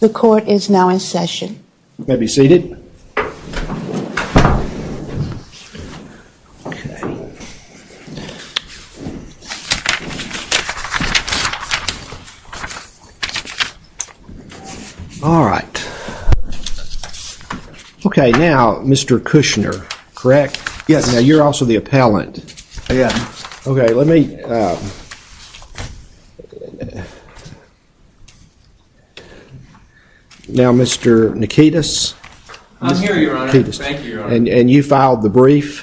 The court is now in session. You may be seated. Okay, now, Mr. Kushner, correct? Yes. Now, you're also the appellant. Yes. Okay, let me... Now, Mr. Nikitas? I'm here, Your Honor. Thank you, Your Honor. And you filed the brief?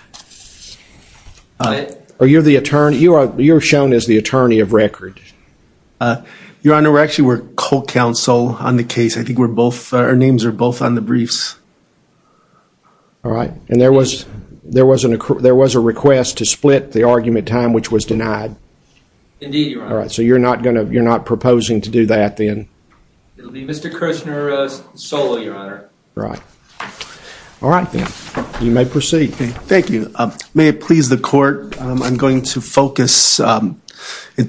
I did. You're shown as the attorney of record. Your Honor, we're actually co-counsel on the case. I think we're both... Our names are both on the briefs. All right, and there was a request to split the argument time, which was denied. Indeed, Your Honor. All right, so you're not proposing to do that, then? Mr. Kushner. Mr. Kushner. Mr. Kushner. Mr. Kushner. Mr. Kushner. Mr. Kushner. Mr. Kushner. Mr. Kushner. Mr. Kushner. All right. All right then, you may proceed. Thank you. May it please the court, I'm going to focus at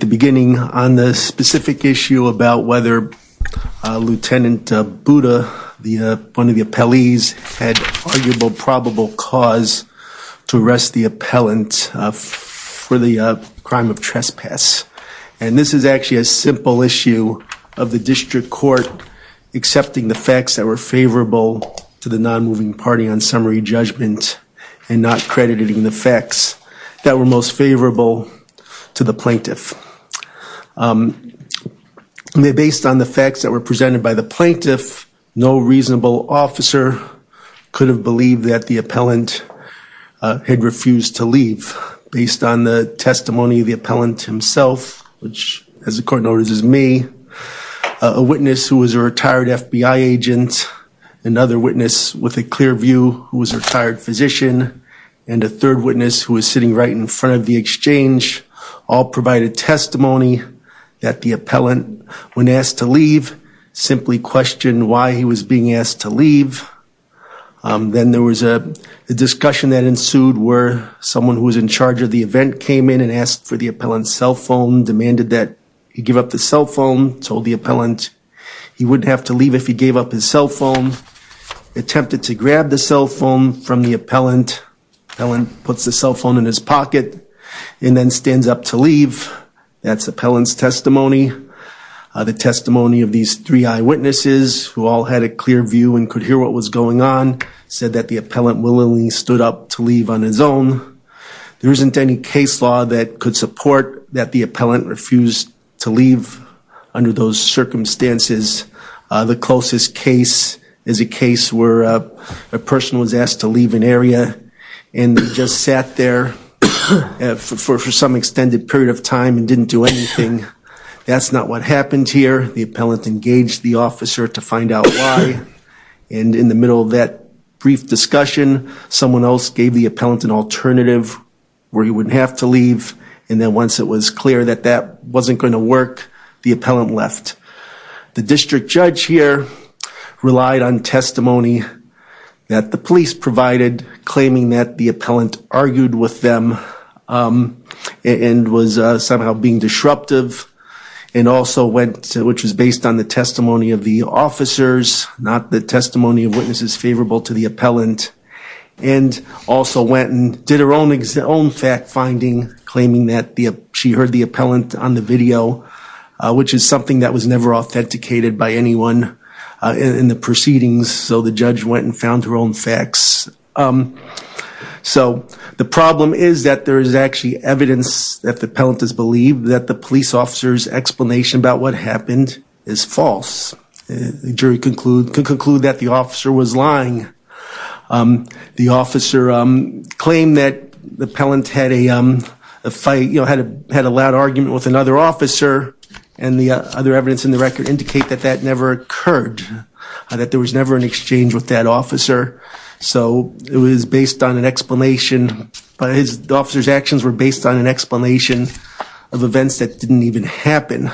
the beginning on the specific issue about whether Lieutenant Buda, one of the appellees, had arguable probable cause to arrest the appellant for the crime of trespass. And this is actually a simple issue of the district court accepting the facts that were favorable to the non-moving party on summary judgment and not crediting the facts that were most favorable to the plaintiff. Based on the facts that were presented by the plaintiff, no reasonable officer could have believed that the appellant had refused to leave. Based on the testimony of the appellant himself, which as the court notices me, a witness who was a retired FBI agent, another witness with a clear view who was a retired physician, and a third witness who was sitting right in front of the exchange, all provided testimony that the appellant, when asked to leave, simply questioned why he was being asked to leave. Then there was a discussion that ensued where someone who was in charge of the event came in and asked for the appellant's cell phone, demanded that he give up the cell phone, told the appellant he wouldn't have to leave if he gave up his cell phone, attempted to grab the cell phone from the appellant, the appellant puts the cell phone in his pocket and then stands up to leave. That's the appellant's testimony. The testimony of these three eyewitnesses who all had a clear view and could hear what was going on said that the appellant willingly stood up to leave on his own. There isn't any case law that could support that the appellant refused to leave under those circumstances. The closest case is a case where a person was asked to leave an area and just sat there for some extended period of time and didn't do anything. That's not what happened here. The appellant engaged the officer to find out why, and in the middle of that brief discussion, someone else gave the appellant an alternative where he wouldn't have to leave, and then once it was clear that that wasn't going to work, the appellant left. The district judge here relied on testimony that the police provided, claiming that the appellant argued with them and was somehow being disruptive, and also went, which was based on the testimony of the officers, not the testimony of witnesses favorable to the She heard the appellant on the video, which is something that was never authenticated by anyone in the proceedings, so the judge went and found her own facts. The problem is that there is actually evidence that the appellant has believed that the police officer's explanation about what happened is false. The jury could conclude that the officer was lying. The officer claimed that the appellant had a loud argument with another officer, and the other evidence in the record indicate that that never occurred, that there was never an exchange with that officer, so it was based on an explanation, but the officer's actions were based on an explanation of events that didn't even happen.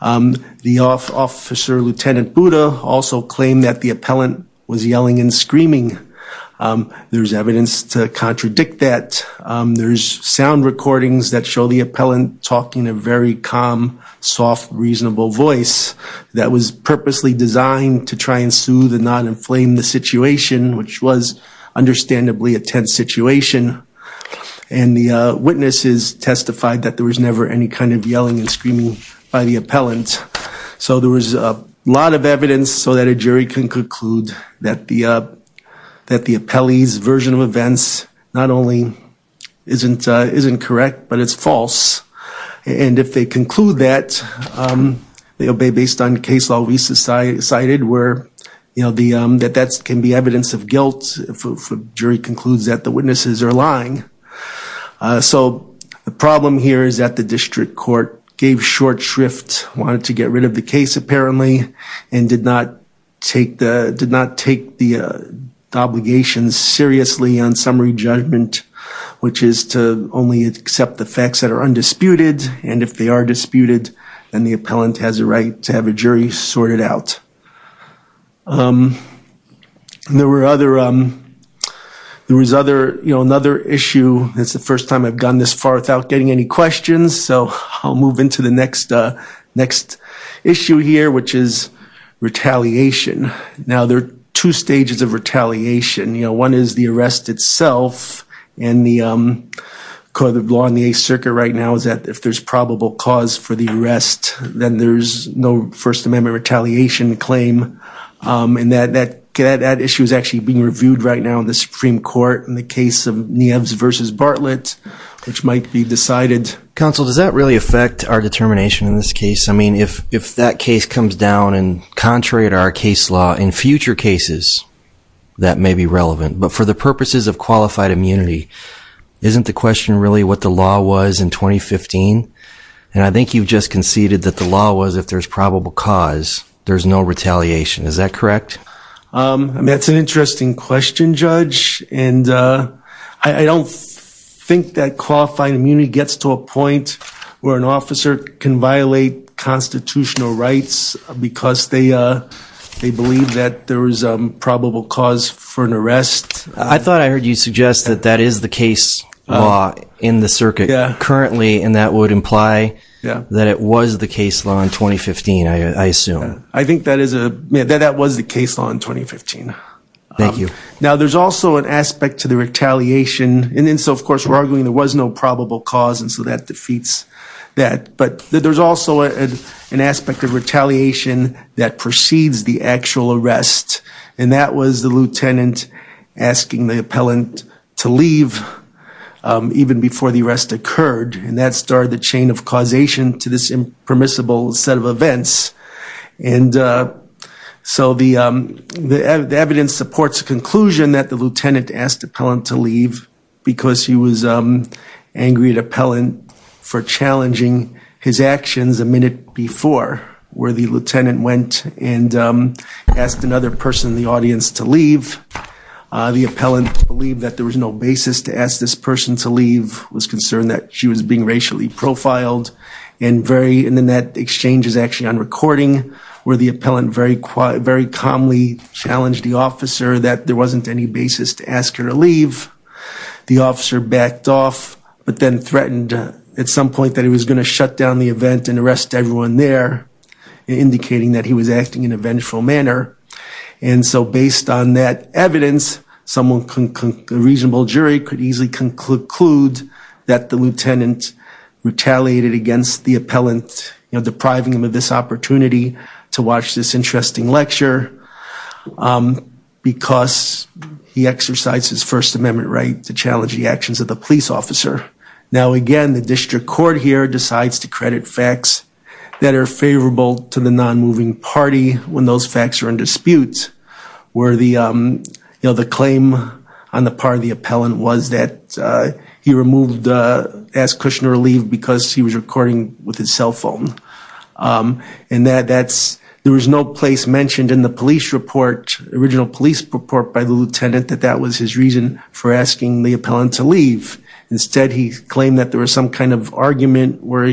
The officer, Lieutenant Buda, also claimed that the appellant was yelling and screaming. There's evidence to contradict that. There's sound recordings that show the appellant talking in a very calm, soft, reasonable voice that was purposely designed to try and soothe and not inflame the situation, which was understandably a tense situation, and the witnesses testified that there was never any kind of yelling and screaming by the appellant. So there was a lot of evidence so that a jury can conclude that the appellee's version of events not only isn't correct, but it's false, and if they conclude that, based on case law we cited where that can be evidence of guilt if a jury concludes that the witnesses are lying. So the problem here is that the district court gave short shrift, wanted to get rid of the case apparently, and did not take the obligations seriously on summary judgment, which is to only accept the facts that are undisputed, and if they are disputed, then the appellant has a right to have a jury sort it out. There was another issue, it's the first time I've gone this far without getting any questions, so I'll move into the next issue here, which is retaliation. Now there are two stages of retaliation. One is the arrest itself, and the law in the 8th Circuit right now is that if there's probable cause for the arrest, then there's no First Amendment retaliation claim, and that issue is actually being reviewed right now in the Supreme Court in the case of Nieves v. Bartlett, which might be decided. Counsel, does that really affect our determination in this case? I mean, if that case comes down, and contrary to our case law, in future cases that may be relevant, but for the purposes of qualified immunity, isn't the question really what the And I think you've just conceded that the law was if there's probable cause, there's no retaliation. Is that correct? That's an interesting question, Judge, and I don't think that qualified immunity gets to a point where an officer can violate constitutional rights because they believe that there is probable cause for an arrest. I thought I heard you suggest that that is the case law in the circuit currently, and that would imply that it was the case law in 2015, I assume. I think that was the case law in 2015. Thank you. Now, there's also an aspect to the retaliation, and so of course we're arguing there was no probable cause, and so that defeats that, but there's also an aspect of retaliation that precedes the actual arrest, and that was the lieutenant asking the appellant to causation to this impermissible set of events, and so the evidence supports the conclusion that the lieutenant asked the appellant to leave because he was angry at the appellant for challenging his actions a minute before, where the lieutenant went and asked another person in the audience to leave. The appellant believed that there was no basis to ask this person to leave, was concerned that she was being racially profiled, and then that exchange is actually on recording, where the appellant very calmly challenged the officer that there wasn't any basis to ask her to leave. The officer backed off, but then threatened at some point that he was going to shut down the event and arrest everyone there, indicating that he was acting in a vengeful manner, and so based on that evidence, a reasonable jury could easily conclude that the lieutenant retaliated against the appellant depriving him of this opportunity to watch this interesting lecture because he exercised his First Amendment right to challenge the actions of the police officer. Now again, the district court here decides to credit facts that are favorable to the non-moving party when those facts are in dispute, where the claim on the part of the appellant was that he asked Kushner to leave because he was recording with his cell phone, and there was no place mentioned in the original police report by the lieutenant that that was his reason for asking the appellant to leave. Instead, he claimed that there was some kind of argument where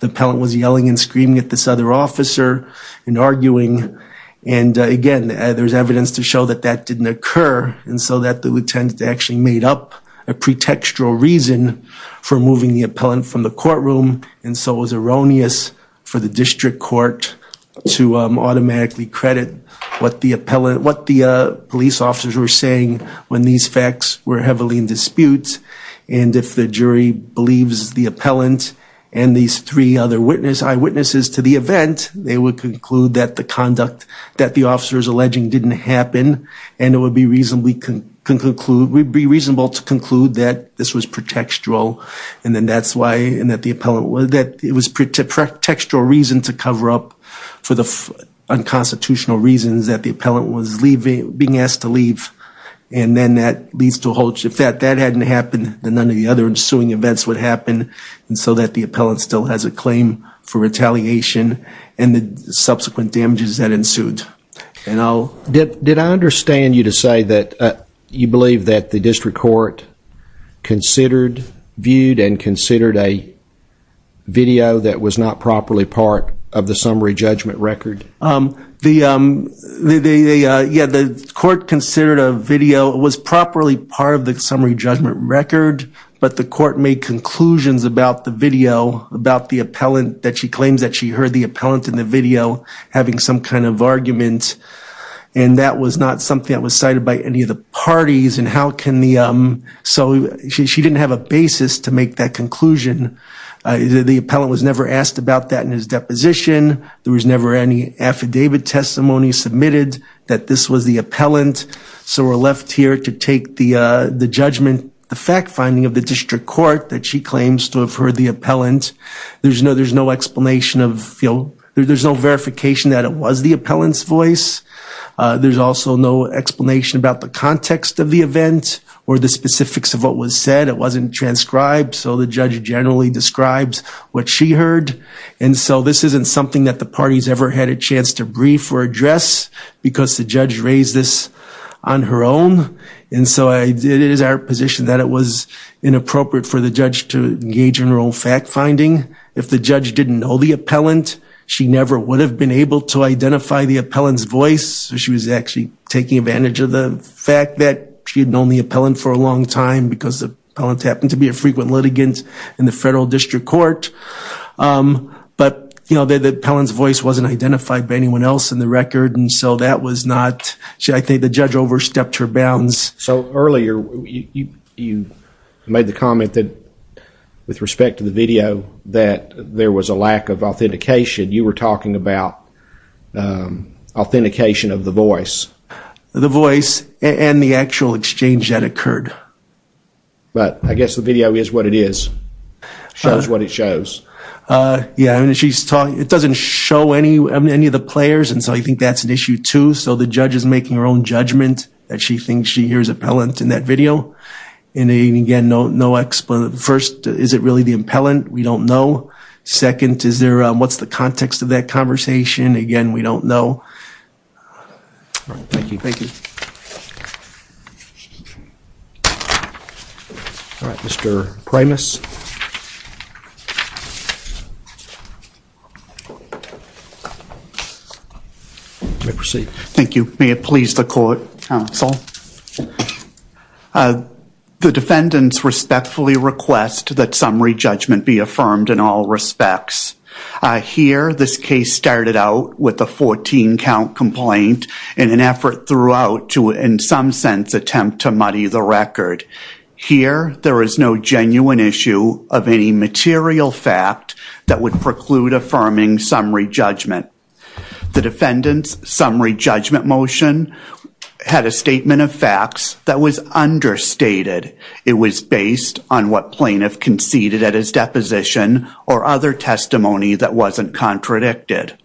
the appellant was yelling and screaming at this other officer and arguing, and again, there's evidence to show that that didn't occur, and so that the lieutenant actually made up a pretextual reason for moving the appellant from the courtroom, and so it was erroneous for the district court to automatically credit what the police officers were saying when these facts were heavily in dispute, and if the jury believes the appellant and these three other eyewitnesses to the event, they would conclude that the conduct that the officer is alleging didn't happen, and it would be reasonable to conclude that this was pretextual, and that it was a pretextual reason to cover up for the unconstitutional reasons that the appellant was being asked to leave, and then that leads to a whole shift. If that hadn't happened, then none of the other ensuing events would happen, and so that the appellant still has a claim for retaliation, and the subsequent damages that ensued. Did I understand you to say that you believe that the district court viewed and considered a video that was not properly part of the summary judgment record? The court considered a video that was properly part of the summary judgment record, but the court made conclusions about the video, about the appellant, that she claims that she heard the appellant in the video having some kind of argument, and that was not something that was cited by any of the parties, and so she didn't have a basis to make that conclusion. The appellant was never asked about that in his deposition. There was never any affidavit testimony submitted that this was the appellant, so we're left here to take the judgment, the fact finding of the district court that she claims to have heard the appellant. There's no explanation of, there's no verification that it was the appellant's voice. There's also no explanation about the context of the event or the specifics of what was said. It wasn't transcribed, so the judge generally describes what she heard, and so this isn't something that the parties ever had a chance to brief or address because the judge raised this on her own, and so it is our position that it was inappropriate for the judge to engage in her own fact finding. If the judge didn't know the appellant, she never would have been able to identify the appellant's voice. She was actually taking advantage of the fact that she had known the appellant for a long time because the appellant happened to be a frequent litigant in the federal district court, but the appellant's voice wasn't identified by anyone else in the record, and so that was not, I think the judge overstepped her bounds. So earlier you made the comment that, with respect to the video, that there was a lack of authentication. You were talking about authentication of the voice. The voice and the actual exchange that occurred. But I guess the video is what it is, shows what it shows. Yeah, and she's talking, it doesn't show any of the players, and so I think that's an issue too. So the judge is making her own judgment that she thinks she hears appellant in that video, and again, first, is it really the appellant? We don't know. Second, is there, what's the context of that conversation? Again, we don't know. Thank you. Thank you. All right, Mr. Primus. You may proceed. Thank you. May it please the court, counsel. The defendants respectfully request that summary judgment be affirmed in all respects. Here, this case started out with a 14 count complaint and an effort throughout to, in some sense, attempt to muddy the record. Here, there is no genuine issue of any material fact that would preclude affirming summary judgment. The defendant's summary judgment motion had a statement of facts that was understated. It was based on what plaintiff conceded at his deposition or other testimony that wasn't contradicted.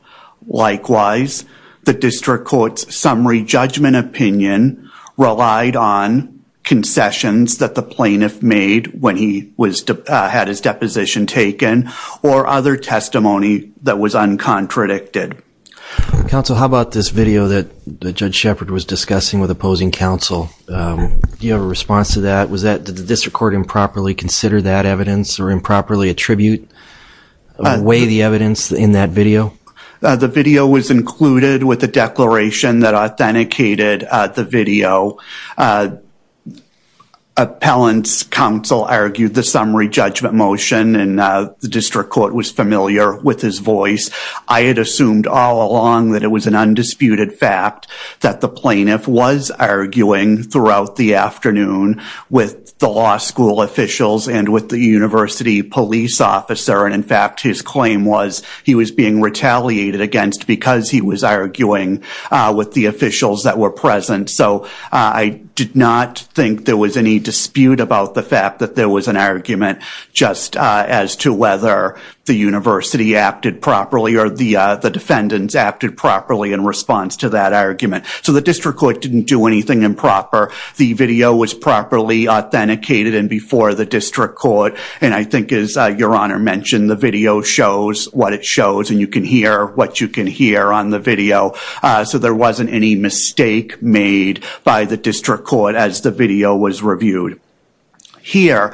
Likewise, the district court's summary judgment opinion relied on concessions that the plaintiff made when he had his deposition taken or other testimony that was uncontradicted. Counsel, how about this video that Judge Shepard was discussing with opposing counsel? Do you have a response to that? Did the district court improperly consider that evidence or improperly attribute or weigh the evidence in that video? The video was included with the declaration that authenticated the video. Appellant's counsel argued the summary judgment motion and the district court was familiar with his voice. I had assumed all along that it was an undisputed fact that the plaintiff was arguing throughout the afternoon with the law school officials and with the university police officer. In fact, his claim was he was being retaliated against because he was arguing with the officials that were present. I did not think there was any dispute about the fact that there was an argument just as to whether the university acted properly or the defendants acted properly in response to that argument. So, the district court didn't do anything improper. The video was properly authenticated and before the district court and I think as your honor mentioned the video shows what it shows and you can hear what you can hear on the video. So, there wasn't any mistake made by the district court as the video was reviewed. Here,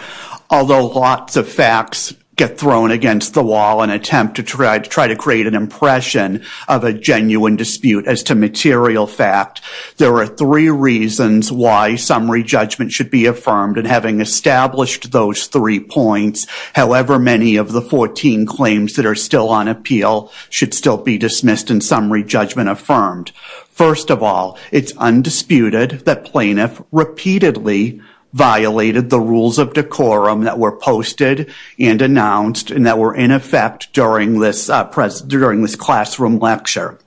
although lots of facts get thrown against the wall and attempt to try to create an impression of a genuine dispute as to material fact, there are three reasons why summary judgment should be affirmed and having established those three points, however many of the 14 claims that are still on appeal should still be dismissed and summary judgment affirmed. First of all, it's undisputed that plaintiff repeatedly violated the rules of decorum that were posted and announced and that were in effect during this classroom lecture.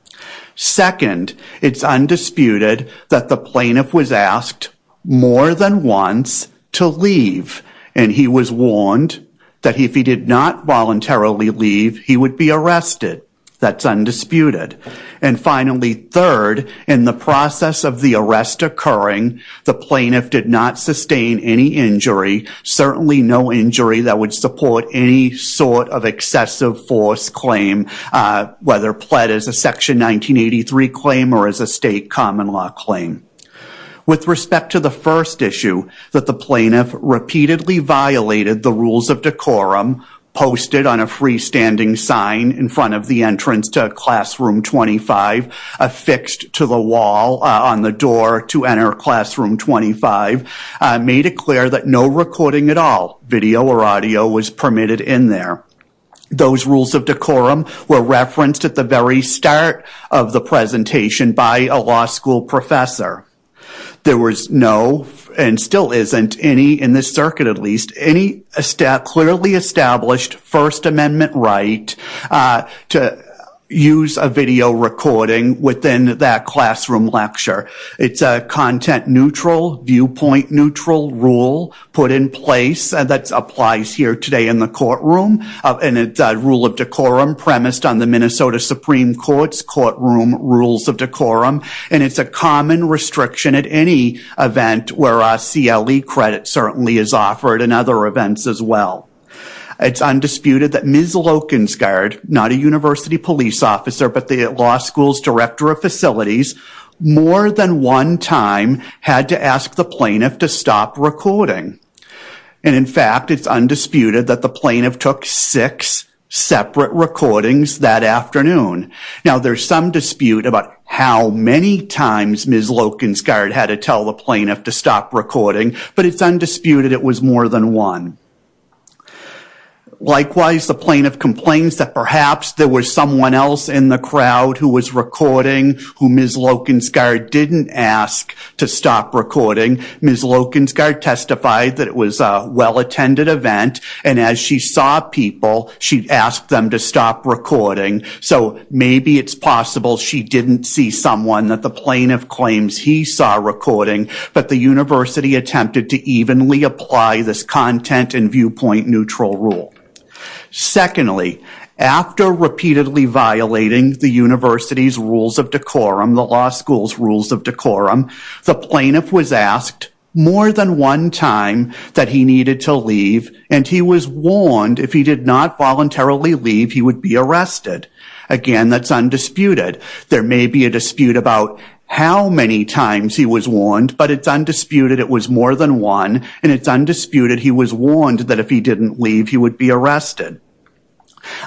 Second, it's undisputed that the plaintiff was asked more than once to leave and he was warned that if he did not voluntarily leave, he would be arrested. That's undisputed. And finally, third, in the process of the arrest occurring, the plaintiff did not sustain any injury, certainly no injury that would support any sort of excessive force claim, whether pled as a section 1983 claim or as a state common law claim. With respect to the first issue that the plaintiff repeatedly violated the rules of decorum posted on a freestanding sign in front of the entrance to classroom 25 affixed to the wall on the door to enter classroom 25 made it clear that no recording at all, video or audio, was permitted in there. Those rules of decorum were referenced at the very start of the presentation by a law school professor. There was no, and still isn't, in this circuit at least, any clearly established First Amendment right to use a video recording within that classroom lecture. It's a content neutral, viewpoint neutral rule put in place that applies here today in the courtroom and it's a rule of decorum premised on the Minnesota Supreme Court's courtroom rules of decorum. It's a common restriction at any event where a CLE credit certainly is offered in other events as well. It's undisputed that Ms. Lokensgaard, not a university police officer but the law school's director of facilities, more than one time had to ask the plaintiff to stop recording. In fact, it's undisputed that the plaintiff took six separate recordings that afternoon. Now, there's some dispute about how many times Ms. Lokensgaard had to tell the plaintiff to stop recording, but it's undisputed it was more than one. Likewise, the plaintiff complains that perhaps there was someone else in the crowd who was recording who Ms. Lokensgaard didn't ask to stop recording. Ms. Lokensgaard testified that it was a well-attended event and as she saw people, she asked them to stop recording. So maybe it's possible she didn't see someone that the plaintiff claims he saw recording, but the university attempted to evenly apply this content and viewpoint neutral rule. Secondly, after repeatedly violating the university's rules of decorum, the law school's rules of decorum, the plaintiff was asked more than one time that he needed to leave and he was arrested. Again, that's undisputed. There may be a dispute about how many times he was warned, but it's undisputed it was more than one and it's undisputed he was warned that if he didn't leave, he would be arrested.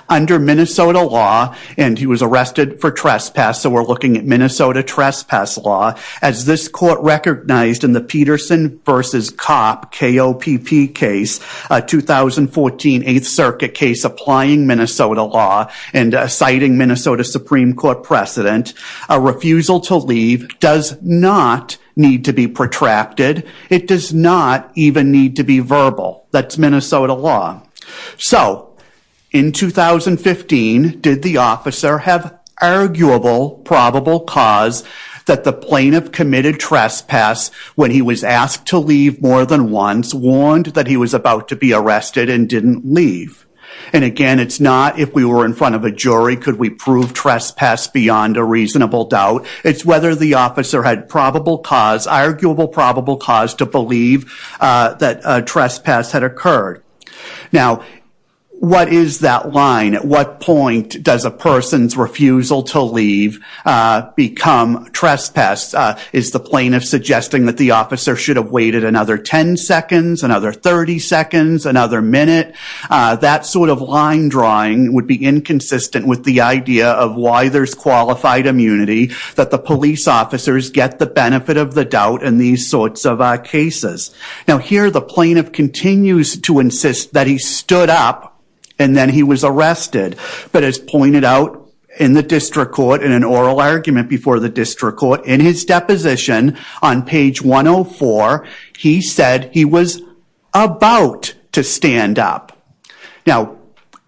Under Minnesota law, and he was arrested for trespass, so we're looking at Minnesota trespass law, as this court recognized in the Peterson v. Kopp K-O-P-P case, a 2014 8th Circuit case applying Minnesota law and citing Minnesota Supreme Court precedent, a refusal to leave does not need to be protracted. It does not even need to be verbal. That's Minnesota law. So in 2015, did the officer have arguable probable cause that the plaintiff committed trespass when he was asked to leave more than once, warned that he was about to be arrested and didn't leave? And again, it's not if we were in front of a jury, could we prove trespass beyond a reasonable doubt. It's whether the officer had probable cause, arguable probable cause, to believe that trespass had occurred. Now what is that line? At what point does a person's refusal to leave become trespass? Is the plaintiff suggesting that the officer should have waited another 10 seconds, another 30 seconds, another minute? That sort of line drawing would be inconsistent with the idea of why there's qualified immunity, that the police officers get the benefit of the doubt in these sorts of cases. Now here the plaintiff continues to insist that he stood up and then he was arrested, but as pointed out in the district court in an oral argument before the district court, in his deposition on page 104, he said he was about to stand up. Now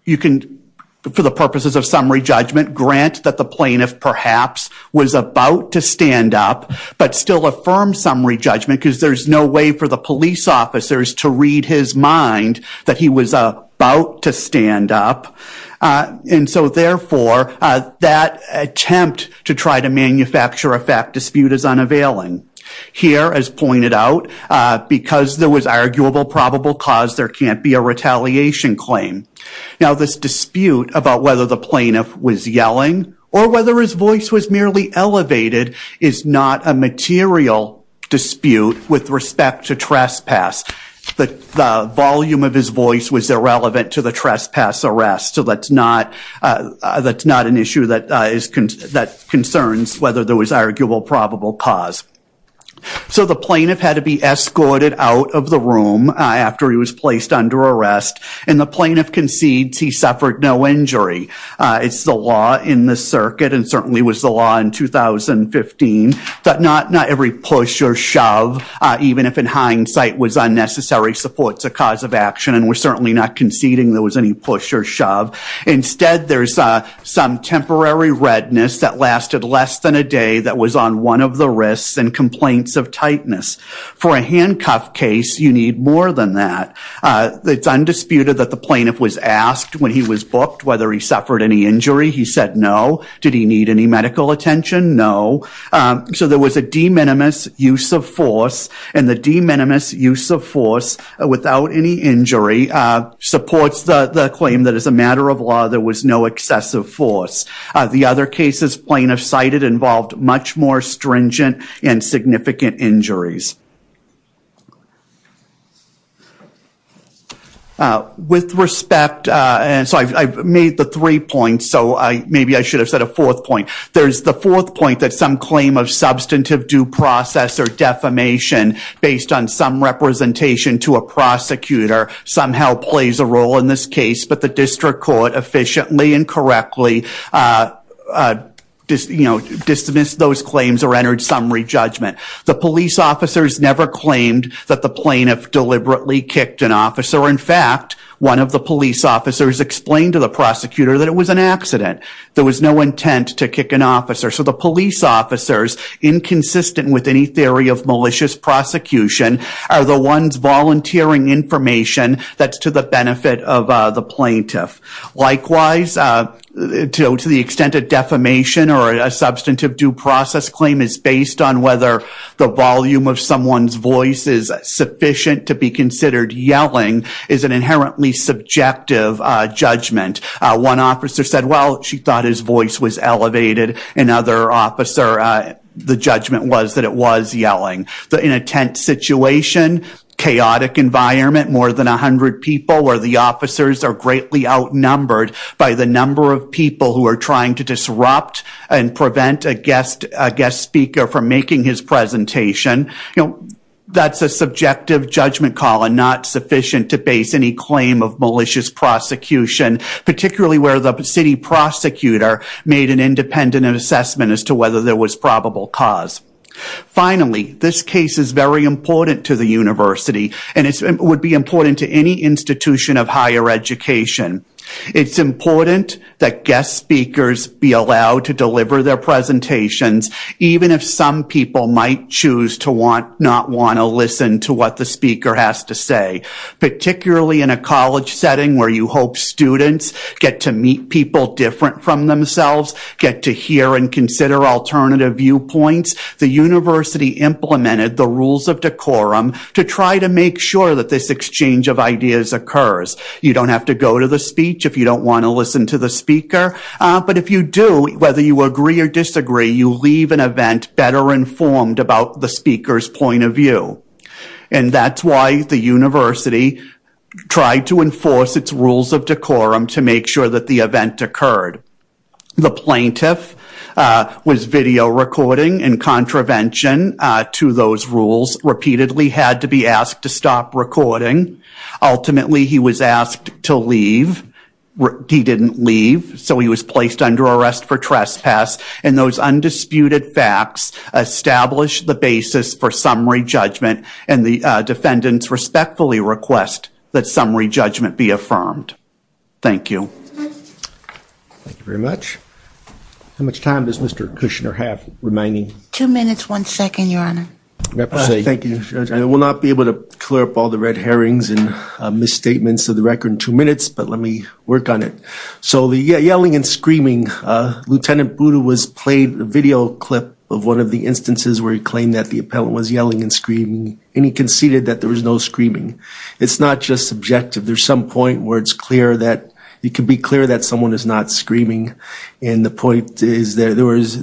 you can, for the purposes of summary judgment, grant that the plaintiff perhaps was about to stand up, but still affirm summary judgment because there's no way for the police officers to read his mind that he was about to stand up. And so therefore, that attempt to try to manufacture a fact dispute is unavailing. Here as pointed out, because there was arguable probable cause, there can't be a retaliation claim. Now this dispute about whether the plaintiff was yelling or whether his voice was merely elevated is not a material dispute with respect to trespass. The volume of his voice was irrelevant to the trespass arrest, so that's not an issue that concerns whether there was arguable probable cause. So the plaintiff had to be escorted out of the room after he was placed under arrest, and the plaintiff concedes he suffered no injury. It's the law in this circuit, and certainly was the law in 2015, that not every push or shove that was unnecessary supports a cause of action, and we're certainly not conceding there was any push or shove. Instead, there's some temporary redness that lasted less than a day that was on one of the risks and complaints of tightness. For a handcuff case, you need more than that. It's undisputed that the plaintiff was asked when he was booked whether he suffered any injury. He said no. Did he need any medical attention? No. So there was a de minimis use of force, and the de minimis use of force without any injury supports the claim that as a matter of law, there was no excessive force. The other cases plaintiffs cited involved much more stringent and significant injuries. With respect, and so I've made the three points, so maybe I should have said a fourth point. There's the fourth point that some claim of substantive due process or defamation based on some representation to a prosecutor somehow plays a role in this case, but the district court efficiently and correctly dismissed those claims or entered summary judgment. The police officers never claimed that the plaintiff deliberately kicked an officer. In fact, one of the police officers explained to the prosecutor that it was an accident. There was no intent to kick an officer. So the police officers, inconsistent with any theory of malicious prosecution, are the ones volunteering information that's to the benefit of the plaintiff. Likewise, to the extent of defamation or a substantive due process claim is based on whether the volume of someone's voice is sufficient to be considered yelling is an inherently subjective judgment. One officer said, well, she thought his voice was elevated. Another officer, the judgment was that it was yelling. In a tent situation, chaotic environment, more than 100 people where the officers are greatly outnumbered by the number of people who are trying to disrupt and prevent a guest speaker from making his presentation, that's a subjective judgment call and not sufficient to base any claim of malicious prosecution, particularly where the city prosecutor made an independent assessment as to whether there was probable cause. Finally, this case is very important to the university and would be important to any institution of higher education. It's important that guest speakers be allowed to deliver their presentations, even if some people might choose to not want to listen to what the speaker has to say. Particularly in a college setting where you hope students get to meet people different from themselves, get to hear and consider alternative viewpoints, the university implemented the rules of decorum to try to make sure that this exchange of ideas occurs. You don't have to go to the speech if you don't want to listen to the speaker, but if you do, whether you agree or disagree, you leave an event better informed about the speaker's point of view. And that's why the university tried to enforce its rules of decorum to make sure that the event occurred. The plaintiff was video recording in contravention to those rules, repeatedly had to be asked to stop recording. Ultimately, he was asked to leave. He didn't leave, so he was placed under arrest for trespass. And those undisputed facts established the basis for summary judgment, and the defendants respectfully request that summary judgment be affirmed. Thank you. Thank you very much. How much time does Mr. Kushner have remaining? Two minutes, one second, Your Honor. Thank you. I will not be able to clear up all the red herrings and misstatements of the record in two minutes, but let me work on it. So the yelling and screaming, Lieutenant Budu played a video clip of one of the instances where he claimed that the appellant was yelling and screaming, and he conceded that there was no screaming. It's not just subjective. There's some point where it's clear that it can be clear that someone is not screaming, and the point is that there's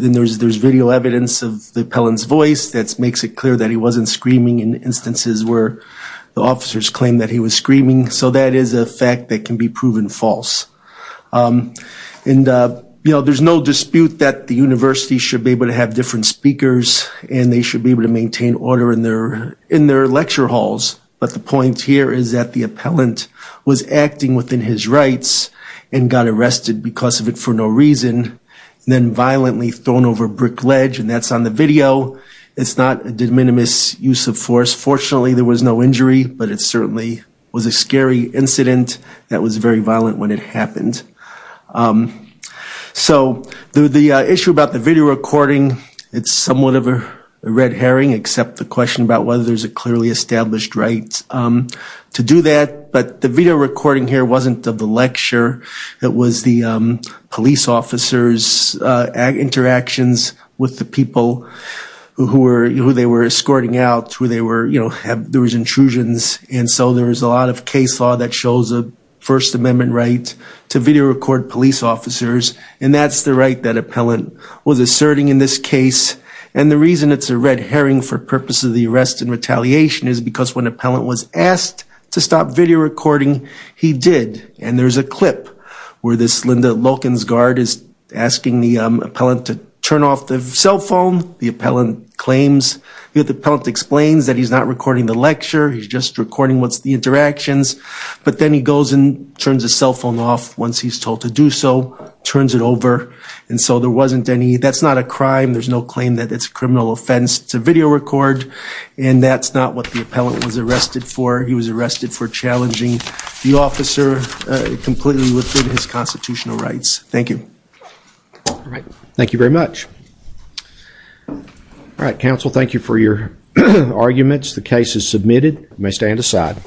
video evidence of the appellant's voice that makes it clear that he wasn't screaming in instances where the officers claimed that he was screaming. So that is a fact that can be proven false. And, you know, there's no dispute that the university should be able to have different speakers and they should be able to maintain order in their lecture halls, but the point here is that the appellant was acting within his rights and got arrested because of it for no reason, and then violently thrown over a brick ledge, and that's on the video. It's not a de minimis use of force. Fortunately, there was no injury, but it certainly was a scary incident that was very violent when it happened. So the issue about the video recording, it's somewhat of a red herring except the question about whether there's a clearly established right to do that, but the video recording here wasn't of the lecture. It was the police officers' interactions with the people who they were escorting out, where there was intrusions, and so there was a lot of case law that shows a First Amendment right to video record police officers, and that's the right that appellant was asserting in this case. And the reason it's a red herring for purposes of the arrest and retaliation is because when he did, and there's a clip where this Linda Loken's guard is asking the appellant to turn off the cell phone, the appellant claims, the appellant explains that he's not recording the lecture, he's just recording what's the interactions, but then he goes and turns the cell phone off once he's told to do so, turns it over, and so there wasn't any, that's not a crime, there's no claim that it's a criminal offense to video record, and that's not what the appellant was arrested for. He was arrested for challenging the officer completely within his constitutional rights. Thank you. All right. Thank you very much. All right, counsel, thank you for your arguments. The case is submitted. You may stand aside.